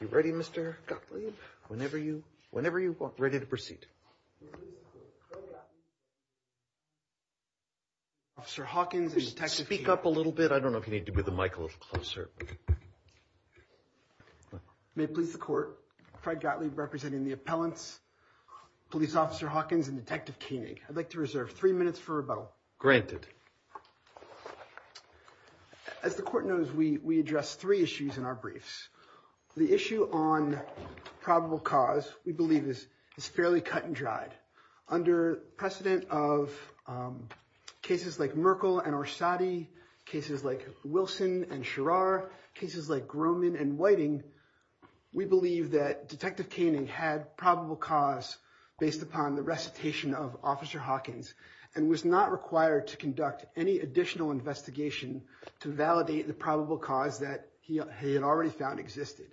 You ready, Mr. Gottlieb? Whenever you want. Ready to proceed. Officer Hawkins and Detective Koenig. Speak up a little bit. I don't know if you need to move the mic a little closer. May it please the Court, Fred Gottlieb representing the appellants, Police Officer Hawkins and Detective Koenig. I'd like to reserve three minutes for rebuttal. Granted. As the Court knows, we address three issues in our briefs. The issue on probable cause, we believe, is fairly cut and dried. Under precedent of cases like Merkle and Orsatti, cases like Wilson and Sherrar, cases like Grohman and Whiting, we believe that Detective Koenig had probable cause based upon the recitation of Officer Hawkins and was not required to conduct any additional investigation to validate the probable cause that he had already found existed.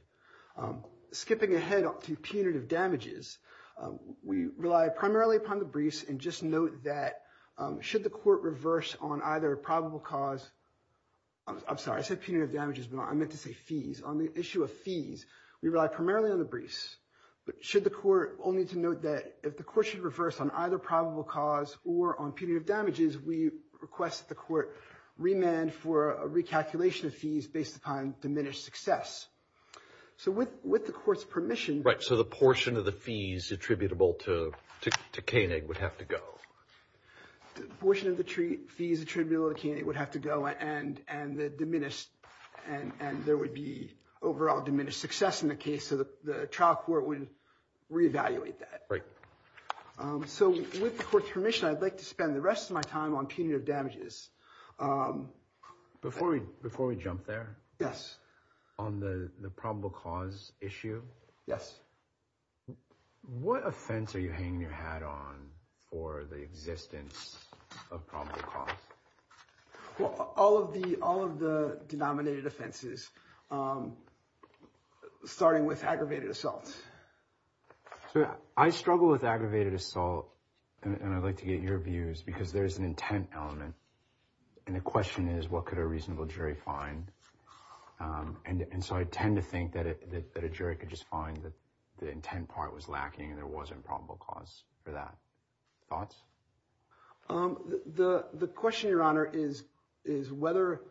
Skipping ahead to punitive damages, we rely primarily upon the briefs and just note that should the Court reverse on either probable cause, I'm sorry, I said punitive damages, but I meant to say fees. On the issue of fees, we rely primarily on the briefs, but should the Court, only to note that if the Court should reverse on either probable cause or on punitive damages, we request that the Court remand for a recalculation of fees based upon diminished success. So with the Court's permission... Right, so the portion of the fees attributable to Koenig would have to go. The portion of the fees attributable to Koenig would have to go and there would be overall diminished success in the case, so the trial court would reevaluate that. Right. So with the Court's permission, I'd like to spend the rest of my time on punitive damages. Before we jump there. Yes. On the probable cause issue. Yes. What offense are you hanging your hat on for the existence of probable cause? Well, all of the denominated offenses, starting with aggravated assault. So I struggle with aggravated assault and I'd like to get your views because there's an intent element and the question is what could a reasonable jury find? And so I tend to think that a jury could just find that the intent part was lacking and there wasn't probable cause for that. Thoughts? The question, Your Honor, is whether,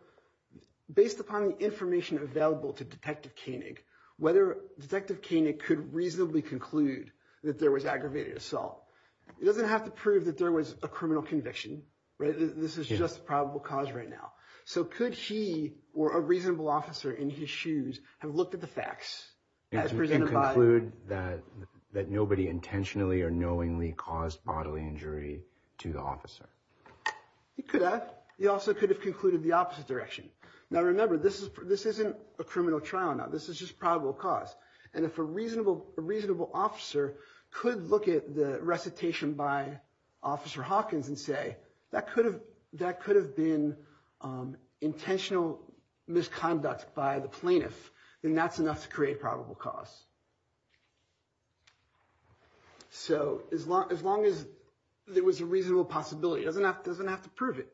based upon the information available to Detective Koenig, whether Detective Koenig could reasonably conclude that there was aggravated assault. He doesn't have to prove that there was a criminal conviction, right? This is just a probable cause right now. So could he, or a reasonable officer in his shoes, have looked at the facts as presented by- And conclude that nobody intentionally or knowingly caused bodily injury to the officer? He could have. He also could have concluded the opposite direction. Now remember, this isn't a criminal trial. Now, this is just probable cause. And if a reasonable officer could look at the recitation by Officer Hawkins and say, that could have been intentional misconduct by the plaintiff, then that's enough to create probable cause. So as long as there was a reasonable possibility, he doesn't have to prove it.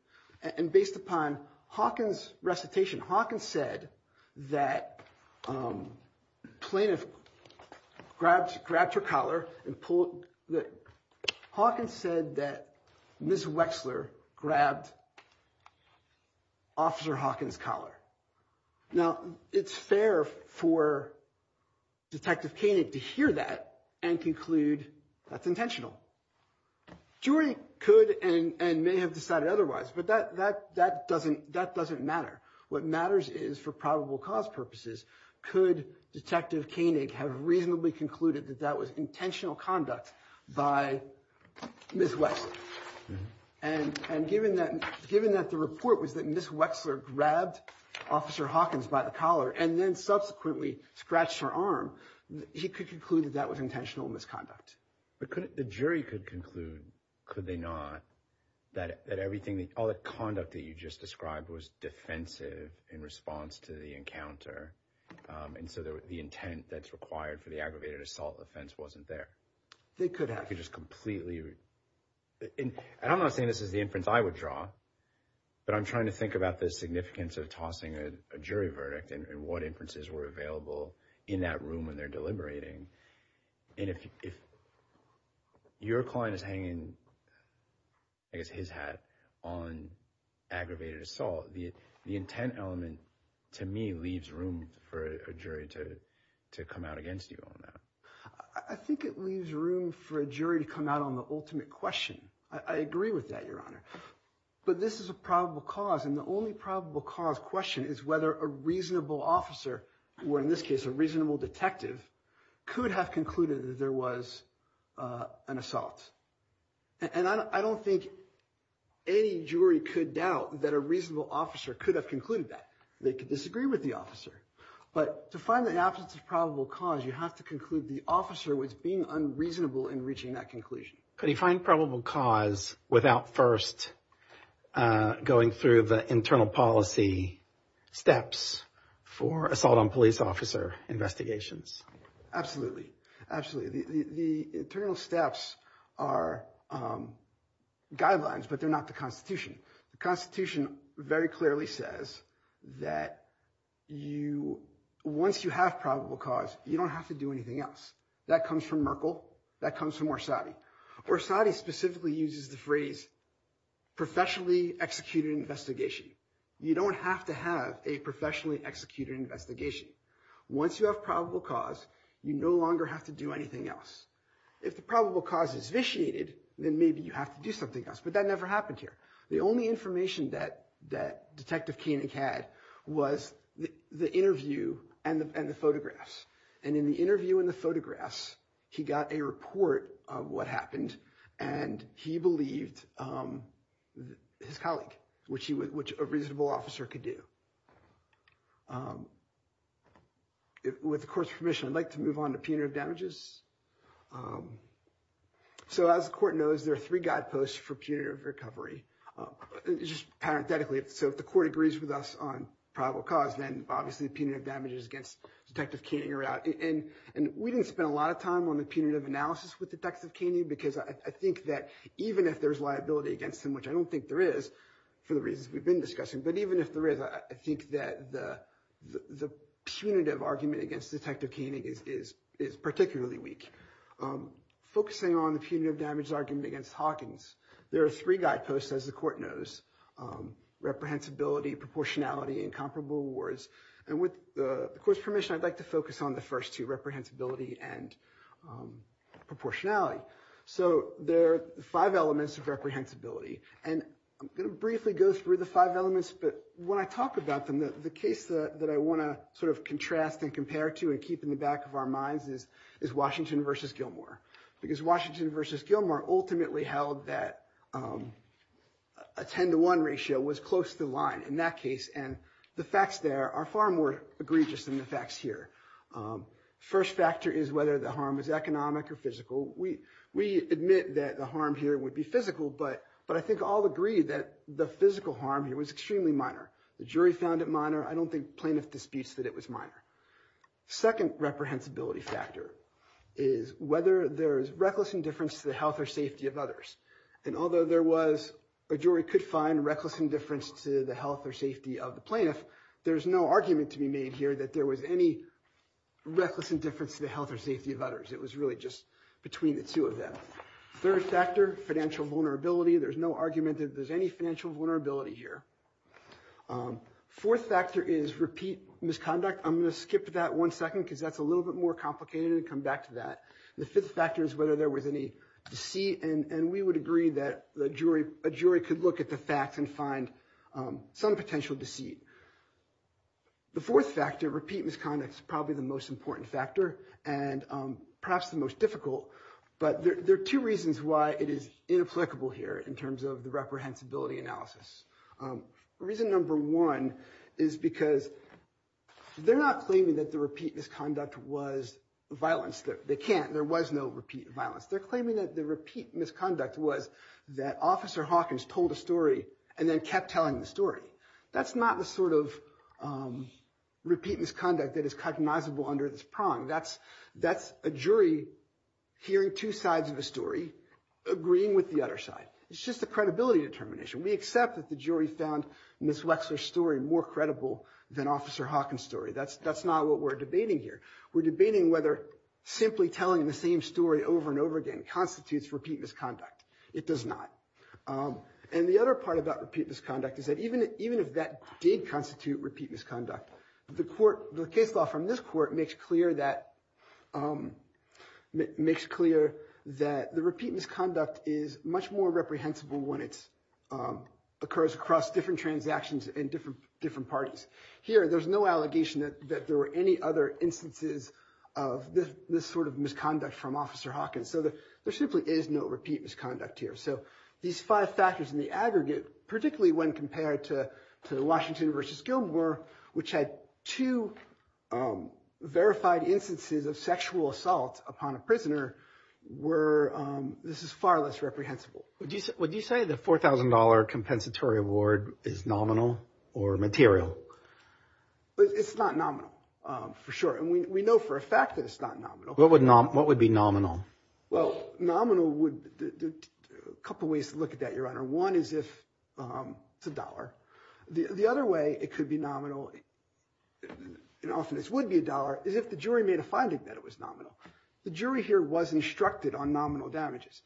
And based upon Hawkins' recitation, Hawkins said that the plaintiff grabbed her collar and pulled- Hawkins said that Ms. Wexler grabbed Officer Hawkins' collar. Now, it's fair for Detective Koenig to hear that and conclude that's intentional. Jury could and may have decided otherwise, but that doesn't matter. What matters is, for probable cause purposes, could Detective Koenig have reasonably concluded that that was intentional conduct by Ms. Wexler? And given that the report was that Ms. Wexler grabbed Officer Hawkins by the collar and then subsequently scratched her arm, he could conclude that that was intentional misconduct. But the jury could conclude, could they not, that everything- all the conduct that you just described was defensive in response to the encounter, and so the intent that's required for the aggravated assault offense wasn't there. They could have just completely- and I'm not saying this is the inference I would draw, but I'm trying to think about the significance of tossing a jury verdict and what inferences were available in that room when they're deliberating. And if your client is hanging, I guess, his hat on aggravated assault, the intent element, to me, leaves room for a jury to come out against you on that. I think it leaves room for a jury to come out on the ultimate question. I agree with that, Your Honor. But this is a probable cause, and the only probable cause question is whether a reasonable officer, or in this case, a reasonable detective, could have concluded that there was an assault. And I don't think any jury could doubt that a reasonable officer could have concluded that. They could disagree with the officer. But to find the absence of probable cause, you have to conclude the officer was being unreasonable in reaching that conclusion. Could he find probable cause without first going through the internal policy steps for assault on police officer investigations? Absolutely. Absolutely. The internal steps are guidelines, but they're not the Constitution. The Constitution very clearly says that once you have probable cause, you don't have to do anything else. That comes from Merkel. That comes from Orsatti. Orsatti specifically uses the phrase, professionally executed investigation. You don't have to have a professionally executed investigation. Once you have probable cause, you no longer have to do anything else. If the probable cause is vitiated, then maybe you have to do something else. But that never happened here. The only information that Detective Koenig had was the interview and the photographs. And in the interview and the photographs, he got a report of what happened, and he believed his colleague, which a reasonable officer could do. With the Court's permission, I'd like to move on to punitive damages. So as the Court knows, there are three guideposts for punitive recovery. Just parenthetically, so if the Court agrees with us on probable cause, then obviously punitive damages against Detective Koenig are out. And we didn't spend a lot of time on the punitive analysis with Detective Koenig, because I think that even if there's liability against him, which I don't think there is for the reasons we've been discussing, but even if there is, I think that the punitive argument against Detective Koenig is particularly weak. Focusing on the punitive damages argument against Hawkins, there are three guideposts, as the Court knows, reprehensibility, proportionality, and comparable awards. And with the Court's permission, I'd like to focus on the first two, reprehensibility and proportionality. So there are five elements of reprehensibility. And I'm going to briefly go through the five elements. But when I talk about them, the case that I want to sort of contrast and compare to and keep in the back of our minds is Washington versus Gilmore. Because Washington versus Gilmore ultimately held that a 10 to 1 ratio was close to the line in that case. And the facts there are far more egregious than the facts here. First factor is whether the harm is economic or physical. We admit that the harm here would be physical, but I think all agree that the physical harm here was extremely minor. The jury found it minor. I don't think plaintiff disputes that it was minor. Second reprehensibility factor is whether there is reckless indifference to the health or safety of others. And although a jury could find reckless indifference to the health or safety of the plaintiff, there is no argument to be made here that there was any reckless indifference to the two of them. Third factor, financial vulnerability. There's no argument that there's any financial vulnerability here. Fourth factor is repeat misconduct. I'm going to skip that one second because that's a little bit more complicated and come back to that. The fifth factor is whether there was any deceit. And we would agree that a jury could look at the facts and find some potential deceit. The fourth factor, repeat misconduct, is probably the most important factor and perhaps the most difficult. But there are two reasons why it is inapplicable here in terms of the reprehensibility analysis. Reason number one is because they're not claiming that the repeat misconduct was violence. They can't. There was no repeat violence. They're claiming that the repeat misconduct was that Officer Hawkins told a story and then kept telling the That's not the sort of repeat misconduct that is cognizable under this prong. That's a jury hearing two sides of a story, agreeing with the other side. It's just a credibility determination. We accept that the jury found Ms. Wexler's story more credible than Officer Hawkins' story. That's not what we're debating here. We're debating whether simply telling the same story over and over again constitutes repeat misconduct. It does not. And the other part about repeat misconduct is that even if that did constitute repeat misconduct, the case law from this court makes clear that the repeat misconduct is much more reprehensible when it occurs across different transactions and different parties. Here, there's no allegation that there were any other instances of this sort of misconduct from Officer Hawkins. So there simply is no misconduct here. So these five factors in the aggregate, particularly when compared to Washington v. Gilmore, which had two verified instances of sexual assault upon a prisoner, this is far less reprehensible. Would you say the $4,000 compensatory award is nominal or material? It's not nominal for sure. And we know for a fact that it's not nominal. What would be nominal? Well, a couple ways to look at that, Your Honor. One is if it's a dollar. The other way it could be nominal, and often this would be a dollar, is if the jury made a finding that it was nominal. The jury here was instructed on nominal damages.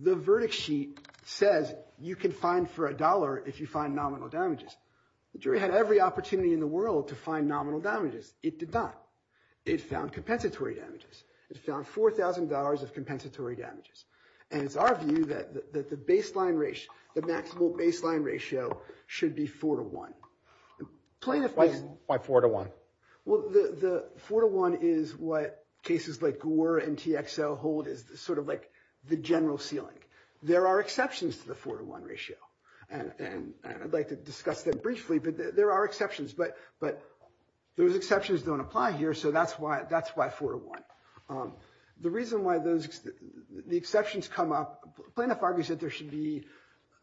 The verdict sheet says you can fine for a dollar if you find nominal damages. The jury had every opportunity in the world to find nominal damages. It did not. It found compensatory damages. It found $4,000 of compensatory damages. And it's our view that the maximum baseline ratio should be 4 to 1. Why 4 to 1? Well, the 4 to 1 is what cases like Gore and TXL hold as sort of like the general ceiling. There are exceptions to the 4 to 1 ratio. And I'd like to discuss them briefly, but there are exceptions. But those exceptions don't apply here, so that's why 4 to 1. The reason why the exceptions come up, Planoff argues that there should be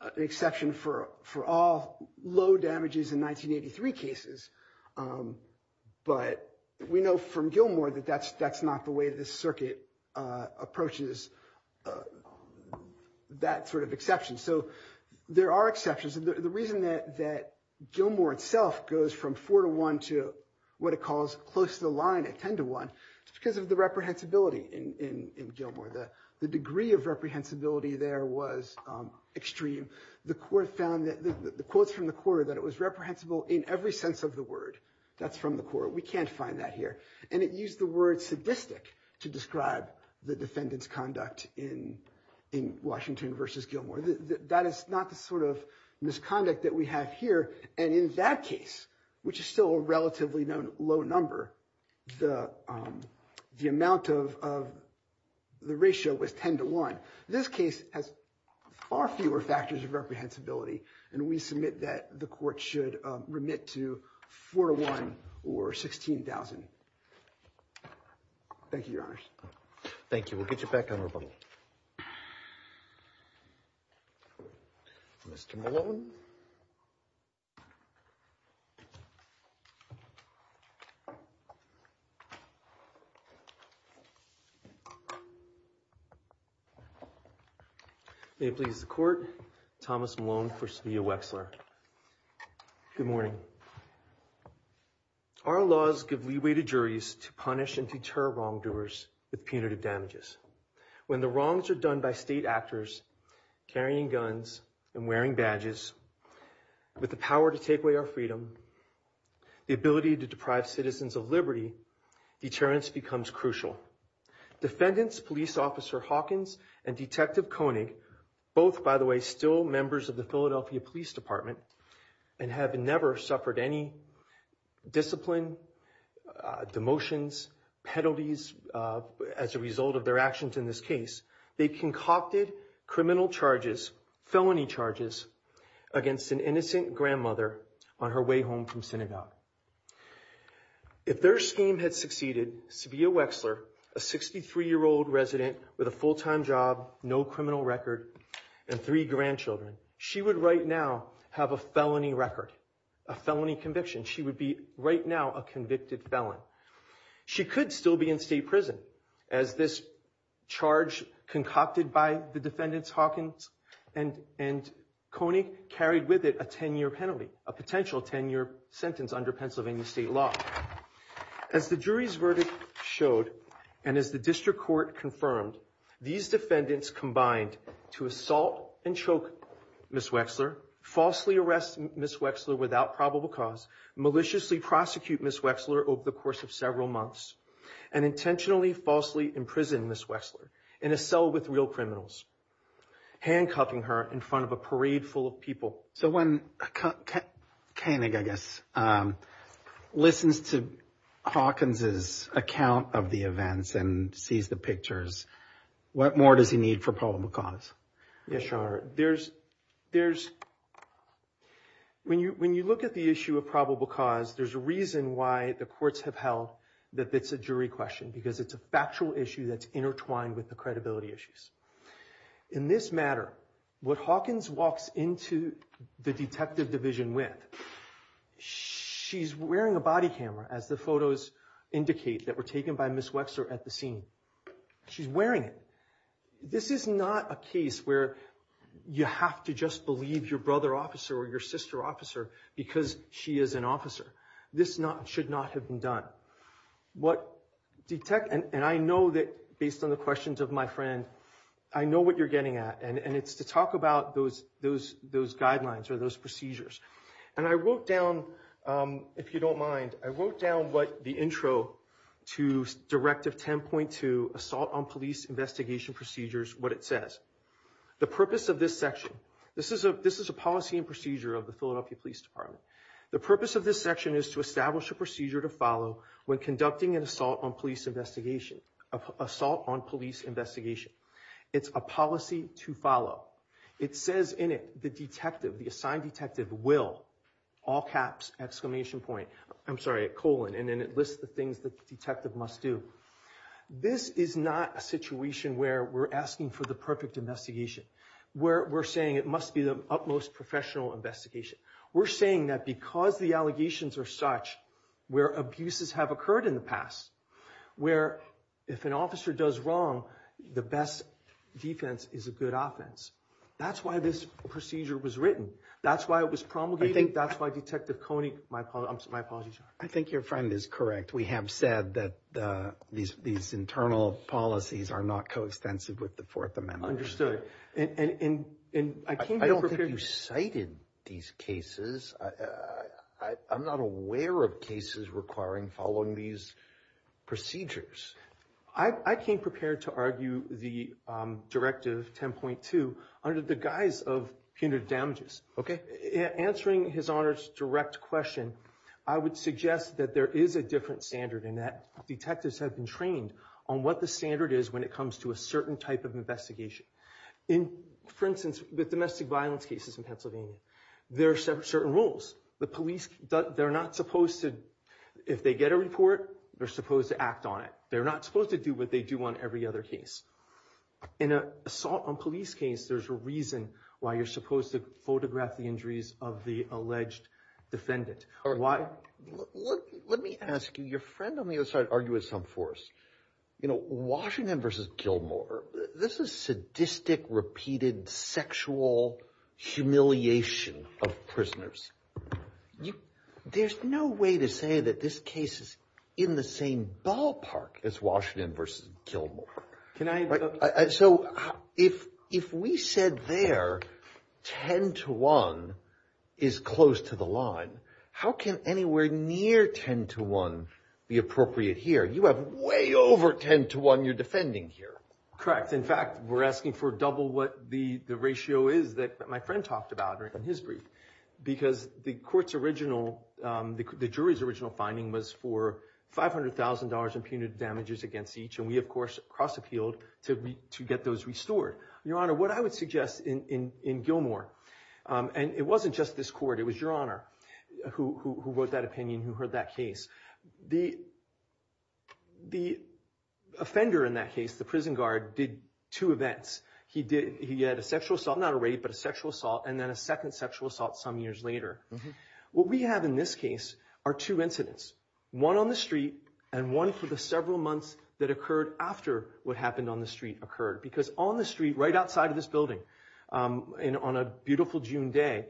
an exception for all low damages in 1983 cases. But we know from Gilmore that that's not the way the circuit approaches that sort of exception. So there are exceptions. The reason that Gilmore itself goes from 4 to 1 to what it calls close to the line at 10 to 1 is because of the reprehensibility in Gilmore. The degree of reprehensibility there was extreme. The court found that the quotes from the court that it was reprehensible in every sense of the word. That's from the court. We can't find that here. And it used the word sadistic to describe the defendant's conduct in Washington versus Gilmore. That is not the sort of misconduct that we have here. And in that case, which is still a relatively low number, the amount of the ratio was 10 to 1. This case has far fewer factors of reprehensibility, and we submit that the court should remit to 4 to 1 or 16,000. Thank you, Your Honors. Thank you. We'll get you back on rebuttal. Mr. Malone. May it please the Court, Thomas Malone for Savia Wexler. Good morning. Our laws give leeway to juries to punish and deter wrongdoers with punitive damages. When the wrongs are done by state actors, carrying guns and wearing badges, with the power to take away our freedom, the ability to deprive citizens of liberty, deterrence becomes crucial. Defendants, Police Officer Hawkins and Detective Koenig, both, by the way, still members of the Philadelphia Police Department, and have never suffered any discipline, demotions, penalties as a result of their actions in this case. They concocted criminal charges, felony charges, against an innocent grandmother on her way home from synagogue. If their scheme had succeeded, Savia Wexler, a 63-year-old resident with a full-time job, no criminal record, and three grandchildren, she would right now have a felony record, a felony conviction. She would be right now a convicted felon. She could still be in state prison as this charge concocted by the defendants, Hawkins and Koenig, carried with it a 10-year penalty, a potential 10-year sentence under Pennsylvania state law. As the jury's verdict showed, and as the district court confirmed, these defendants combined to assault and choke Ms. Wexler, falsely arrest Ms. Wexler without probable cause, maliciously prosecute Ms. Wexler over the course of several months, and intentionally, falsely imprison Ms. Wexler in a cell with real criminals, handcuffing her in front of a parade full of So when Koenig, I guess, listens to Hawkins's account of the events and sees the pictures, what more does he need for probable cause? Yes, your honor. There's, there's, when you, when you look at the issue of probable cause, there's a reason why the courts have held that it's a jury question, because it's a factual issue that's intertwined with the detective division with. She's wearing a body camera, as the photos indicate, that were taken by Ms. Wexler at the scene. She's wearing it. This is not a case where you have to just believe your brother officer or your sister officer because she is an officer. This not, should not have been done. What detect, and I know that based on the questions of my I know what you're getting at, and it's to talk about those, those, those guidelines or those procedures. And I wrote down, if you don't mind, I wrote down what the intro to Directive 10.2, Assault on Police Investigation Procedures, what it says. The purpose of this section, this is a, this is a policy and procedure of the Philadelphia Police Department. The purpose of this section is to establish a procedure to follow when conducting an assault police investigation, assault on police investigation. It's a policy to follow. It says in it, the detective, the assigned detective will, all caps, exclamation point, I'm sorry, colon, and then it lists the things the detective must do. This is not a situation where we're asking for the perfect investigation, where we're saying it must be the utmost professional investigation. We're saying that because the allegations are such, where abuses have occurred in the past, where if an officer does wrong, the best defense is a good offense. That's why this procedure was written. That's why it was promulgated. I think that's why Detective Coney, my apologies. I think your friend is correct. We have said that the, these, these internal policies are not coextensive with the Fourth Amendment. Understood. And, and, and, and I came here You cited these cases. I, I, I'm not aware of cases requiring following these procedures. I, I came prepared to argue the directive 10.2 under the guise of punitive damages. Okay. Answering His Honor's direct question, I would suggest that there is a different standard in that detectives have been trained on what the standard is when it comes to a certain type of investigation. In, for instance, with domestic violence cases in Pennsylvania, there are certain rules. The police, they're not supposed to, if they get a report, they're supposed to act on it. They're not supposed to do what they do on every other case. In an assault on police case, there's a reason why you're supposed to photograph the injuries of the alleged defendant. Why? Let me ask you, your friend on the other side argued with some force. You know, Washington versus Gilmore, this is sadistic, repeated, sexual humiliation of prisoners. You, there's no way to say that this case is in the same ballpark as Washington versus Gilmore. Can I, so if, if we said there 10 to 1 is close to the line, how can anywhere near 10 to 1 be appropriate here? You have way over 10 to 1 you're defending here. Correct. In fact, we're asking for double what the ratio is that my friend talked about in his brief. Because the court's original, the jury's original finding was for $500,000 in punitive damages against each. And we, of course, cross appealed to get those restored. Your Honor, what I would suggest in Gilmore, and it wasn't just this court, it was your Honor who wrote that opinion, who said, the offender in that case, the prison guard, did two events. He did, he had a sexual assault, not a rape, but a sexual assault, and then a second sexual assault some years later. What we have in this case are two incidents. One on the street, and one for the several months that occurred after what happened on the street occurred. Because on the street, right outside of this building, and on a beautiful June day,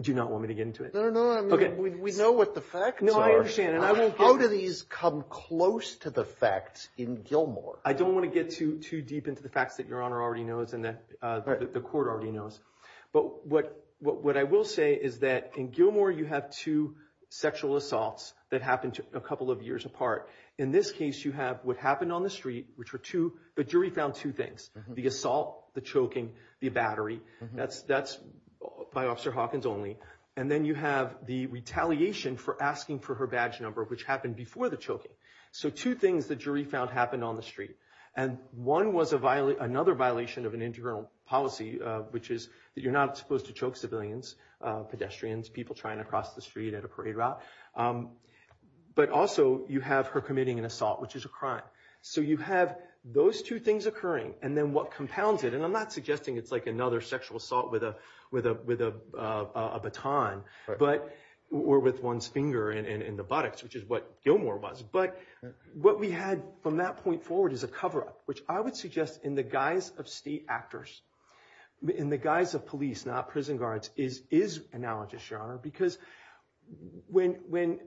do you not want me to get into it? No, no, no. I mean, we know what the facts are. No, I understand, and I will get- How do these come close to the facts in Gilmore? I don't want to get too deep into the facts that your Honor already knows, and that the court already knows. But what I will say is that in Gilmore, you have two sexual assaults that happened a couple of years apart. In this case, you have what happened on the street, which were two, the jury found two things. The assault, the choking, the battery. That's by Officer Hawkins only. And then you have the retaliation for asking for her badge number, which happened before the choking. So two things the jury found happened on the street. And one was another violation of an internal policy, which is that you're not supposed to choke civilians, pedestrians, people trying to cross the street at a parade route. But also, you have her committing an assault, which is a crime. So you have those two things occurring. And then what compounds it, and I'm not suggesting it's like another sexual assault with a baton, or with one's finger in the buttocks, which is what Gilmore was. But what we had from that point forward is a cover-up, which I would suggest in the guise of state actors, in the guise of police, not prison guards, is analogous, Your Honor. Because when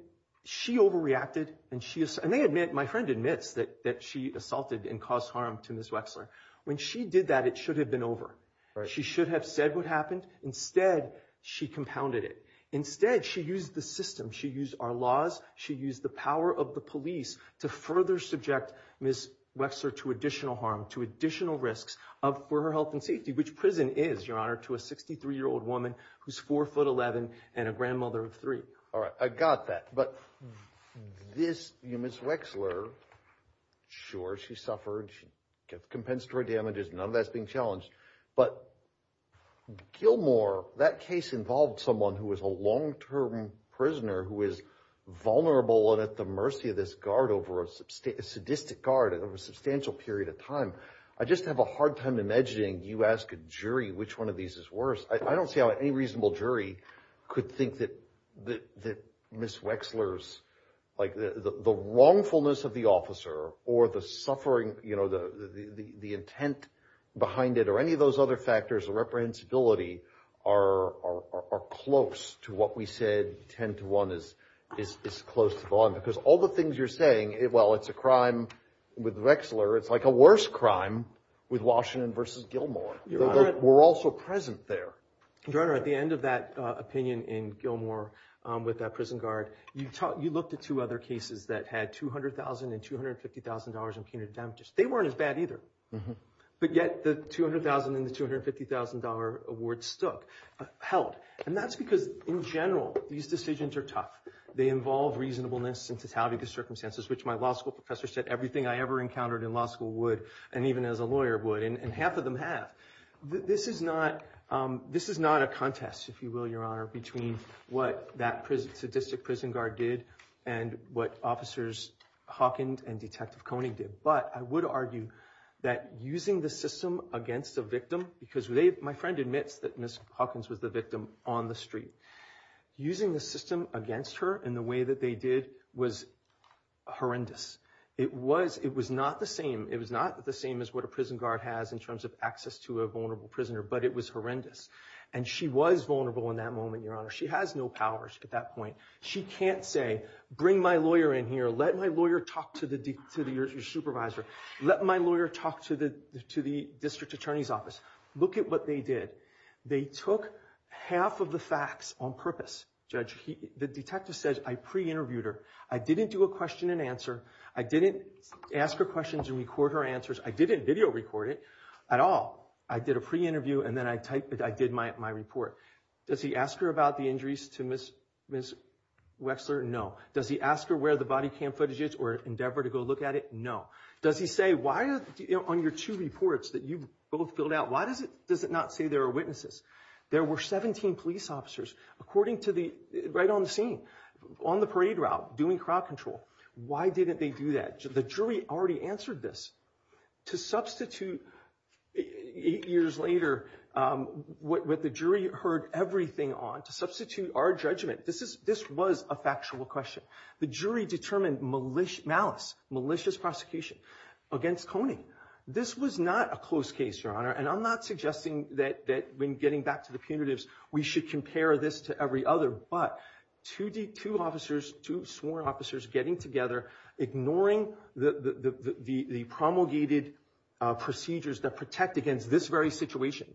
she overreacted, and my friend admits that she assaulted and caused harm to Ms. Wexler. When she did that, it should have been over. She should have said what happened. Instead, she compounded it. Instead, she used the system. She used our laws. She used the power of the police to further subject Ms. Wexler to additional harm, to additional risks for her health and safety, which prison is, Your Honor, to a 63-year-old woman who's 4'11 and a grandmother of three. All right, I got that. But this, Ms. Wexler, sure, she suffered. She got compensatory damages. None of that's being challenged. But Gilmore, that case involved someone who was a long-term prisoner who is vulnerable and at the mercy of this guard, over a sadistic guard, over a substantial period of time. I just have a hard time imagining, you ask a jury, which one of these is worse. I don't see how any reasonable jury could think that Ms. Wexler's, like, the wrongfulness of the officer or the suffering, you know, the intent behind it or any of those other factors of reprehensibility are close to what we said 10-1 is close to the line. Because all the things you're saying, well, it's a crime with Wexler. It's like a worse crime with Washington versus Gilmore. We're also present there. Your Honor, at the end of that opinion in Gilmore with that prison guard, you looked at two other cases that had $200,000 and $250,000 in punitive damages. They weren't as bad either. But yet, the $200,000 and the $250,000 award held. And that's because, in general, these decisions are tough. They involve reasonableness and totality of the circumstances, which my law school professor said everything I ever encountered in law school would, and even as a lawyer would. And half of them have. This is not a contest, if you will, Your Honor, between what that sadistic prison guard did and what Officers Hawkins and Detective Kony did. But I would argue that using the system against a victim, because my friend admits that Ms. Hawkins was the victim on the street. Using the system against her in the way that they did was horrendous. It was not the same. It was not the same as what a prison guard has in terms of access to a vulnerable prisoner, but it was horrendous. And she was vulnerable in that moment, Your Honor. She has no powers at that point. She can't say, bring my lawyer in here. Let my lawyer talk to your supervisor. Let my lawyer talk to the district attorney's office. Look at what they did. They took half of the facts on purpose, Judge. The detective says, I pre-interviewed her. I didn't do a question and answer. I didn't ask her questions and record her answers. I didn't video record it at all. I did a pre-interview, and then I did my report. Does he ask her about the injuries to Ms. Wexler? No. Does he ask her where the body cam footage is or endeavor to go look at it? No. Does he say, why on your two reports that you both filled out, why does it not say there are witnesses? There were 17 police officers, according to the, right on the scene, on the parade route, doing crowd control. Why didn't they do that? The jury already answered this. To substitute, eight years later, what the jury heard everything on, to substitute our judgment, this was a factual question. The jury determined malice, malicious prosecution against Kony. This was not a close case, Your Honor. And I'm not suggesting that when getting back to the punitives, we should compare this to every other, but two officers, two sworn officers getting together, ignoring the promulgated procedures that protect against this very situation,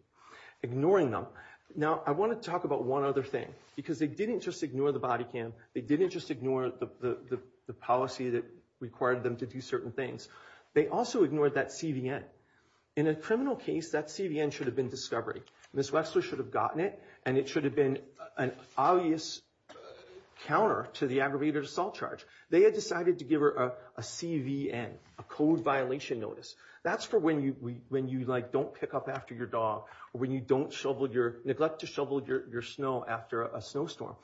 ignoring them. Now, I want to talk about one other thing, because they didn't just ignore the body cam. They didn't just ignore the policy that required them to do certain things. They also ignored that CVN. In a criminal case, that CVN should have been discovery. Ms. Wexler should have gotten it, and it should have been an obvious counter to the aggravated assault charge. They had decided to give her a CVN, a code violation notice. That's for when you don't pick up after your dog, or when you neglect to shovel your snow after a snowstorm.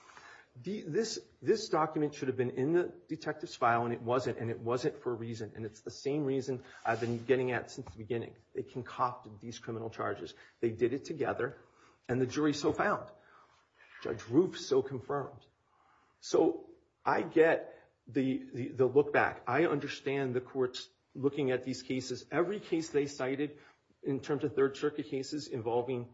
This document should have been in the detective's file, and it wasn't, and it wasn't for a reason. And it's the same reason I've been getting at since the beginning. They concocted these criminal charges. They did it together, and the jury so found. Judge Roof so confirmed. So I get the look back. I understand the courts looking at these cases. Every case they cited in terms of Third Circuit cases involving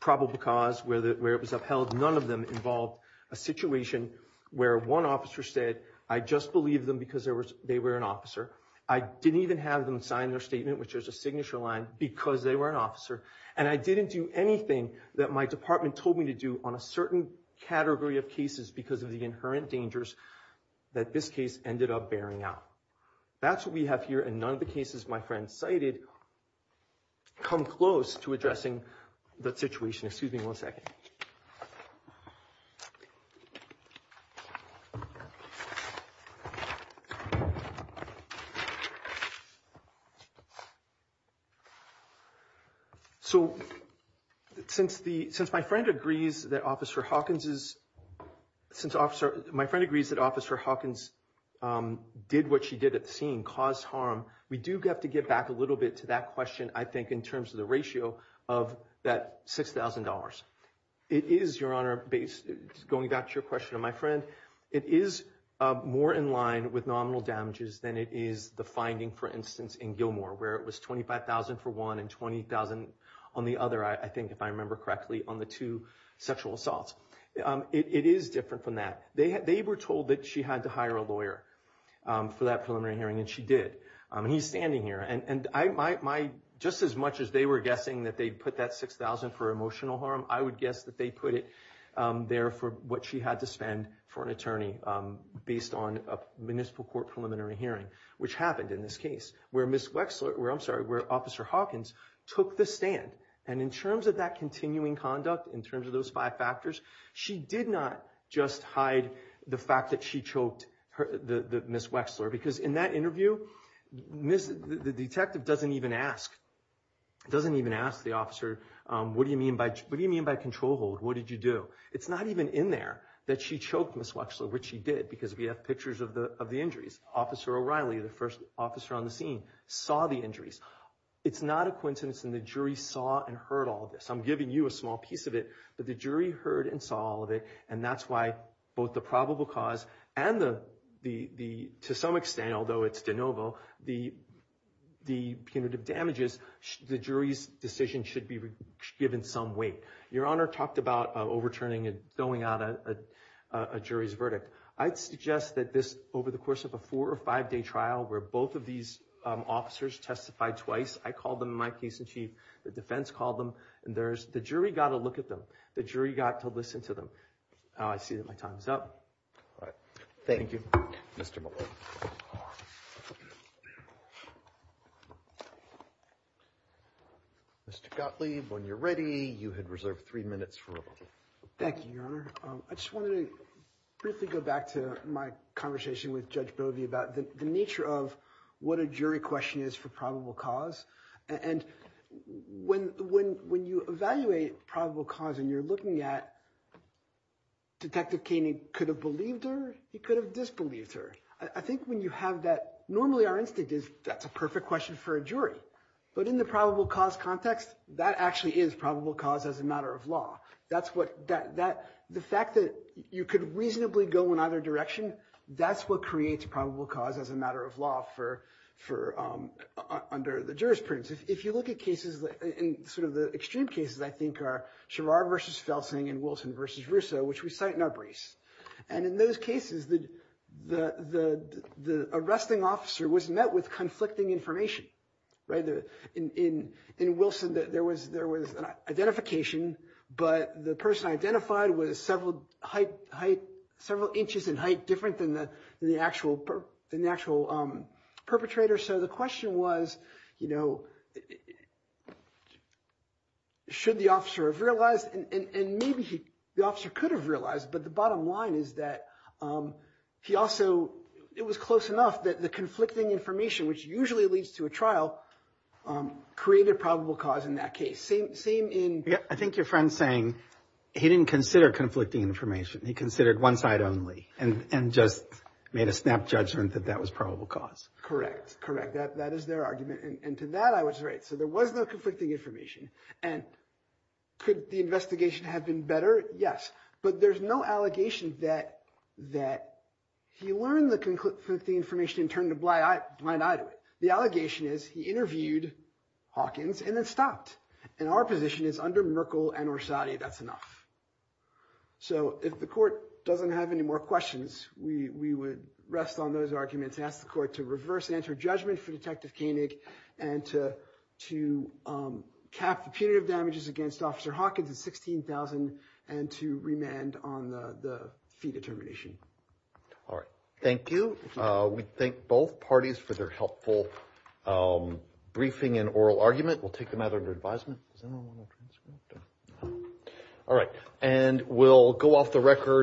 probable cause where it was upheld, none of them involved a situation where one officer said, I just believe them because they were an officer. I didn't even have them sign their statement, which is a signature line, because they were an officer. And I didn't do anything that my department told me to do on a certain category of cases because of the inherent dangers that this case ended up bearing out. That's what we have here, and none of the cases my friends cited come close to addressing that situation. Excuse me one second. So since my friend agrees that Officer Hawkins did what she did at the scene, caused harm, we do have to get back a little bit to that question, I think, in terms of the ratio of that $6,000. It is, Your Honor, going back to your question of my friend, it is more in line with nominal damages than it is the finding, for instance, in Gilmore, where it was $25,000 for one and $20,000 on the other, I think if I remember correctly, on the two sexual assaults. It is different from that. They were told that she had to hire a lawyer for that preliminary hearing, and she did. He's standing here, and just as much as they were guessing that they'd put that $6,000 for emotional harm, I would guess that they put it there for what she had to spend for an attorney based on a municipal court preliminary hearing, which happened in this case, where Officer Hawkins took the stand. And in terms of that continuing conduct, in terms of those five factors, she did not just hide the fact that she choked Ms. Wexler, because in that interview, the detective doesn't even ask the officer, what do you mean by control hold? What did you do? It's not even in there that she choked Ms. Wexler, which she did, because we have pictures of the injuries. Officer O'Reilly, the first officer on the scene, saw the injuries. It's not a coincidence that the jury saw and heard all of this. I'm giving you a small piece of it, but the jury heard and saw all of it, and that's why both the probable cause and the, to some extent, although it's de novo, the punitive damages, the jury's decision should be given some weight. Your Honor talked about overturning and throwing out a jury's verdict. I'd suggest that this, over the course of a four or five day trial, where both of these officers testified twice, I called them in my case in chief, the defense called them, and the jury got to look at them. The jury got to listen to them. I see that my time is up. All right. Thank you, Mr. Muller. Mr. Gottlieb, when you're ready, you had reserved three minutes for rebuttal. Thank you, Your Honor. I just wanted to briefly go back to my conversation with Judge Bovey about the nature of what a jury question is for probable cause, and when you evaluate probable cause and you're looking at Detective Kainey could have believed her, he could have disbelieved her. I think when you have that, normally our instinct is that's a perfect question for a jury, but in the probable cause context, that actually is probable cause as a matter of law. The fact that you could reasonably go in either direction, that's what creates probable cause as a matter of law under the jurisprudence. If you look at cases, in sort of the extreme cases, I think, are Sherrar versus Felsing and Wilson versus Russo, which we cite in our briefs. In those cases, the arresting officer was met with conflicting information. In Wilson, there was an identification, but the person identified was several inches in height different than the actual perpetrator. So the question was, should the officer have realized, and maybe the officer could have realized, but the bottom line is that he also, it was close enough that the conflicting information, which usually leads to a trial, created probable cause in that case. I think your friend's saying he didn't consider conflicting information. He considered one side only and just made a snap judgment that that was probable cause. Correct. Correct. That is their argument. And to that, I was right. So there was no conflicting information. And could the investigation have been better? Yes. But there's no allegation that he learned the conflicting information and turned a blind eye to it. The allegation is he interviewed Hawkins and then stopped. And our position is under Merkel and Orsatti, that's enough. So if the court doesn't have any more questions, we would rest on those arguments and ask the court to reverse answer judgment for Detective Koenig and to cap the punitive damages against Officer Hawkins at $16,000 and to remand on the fee determination. All right. Thank you. We thank both parties for their helpful briefing and oral argument. We'll take them out under advisement. All right. And we'll go off the record.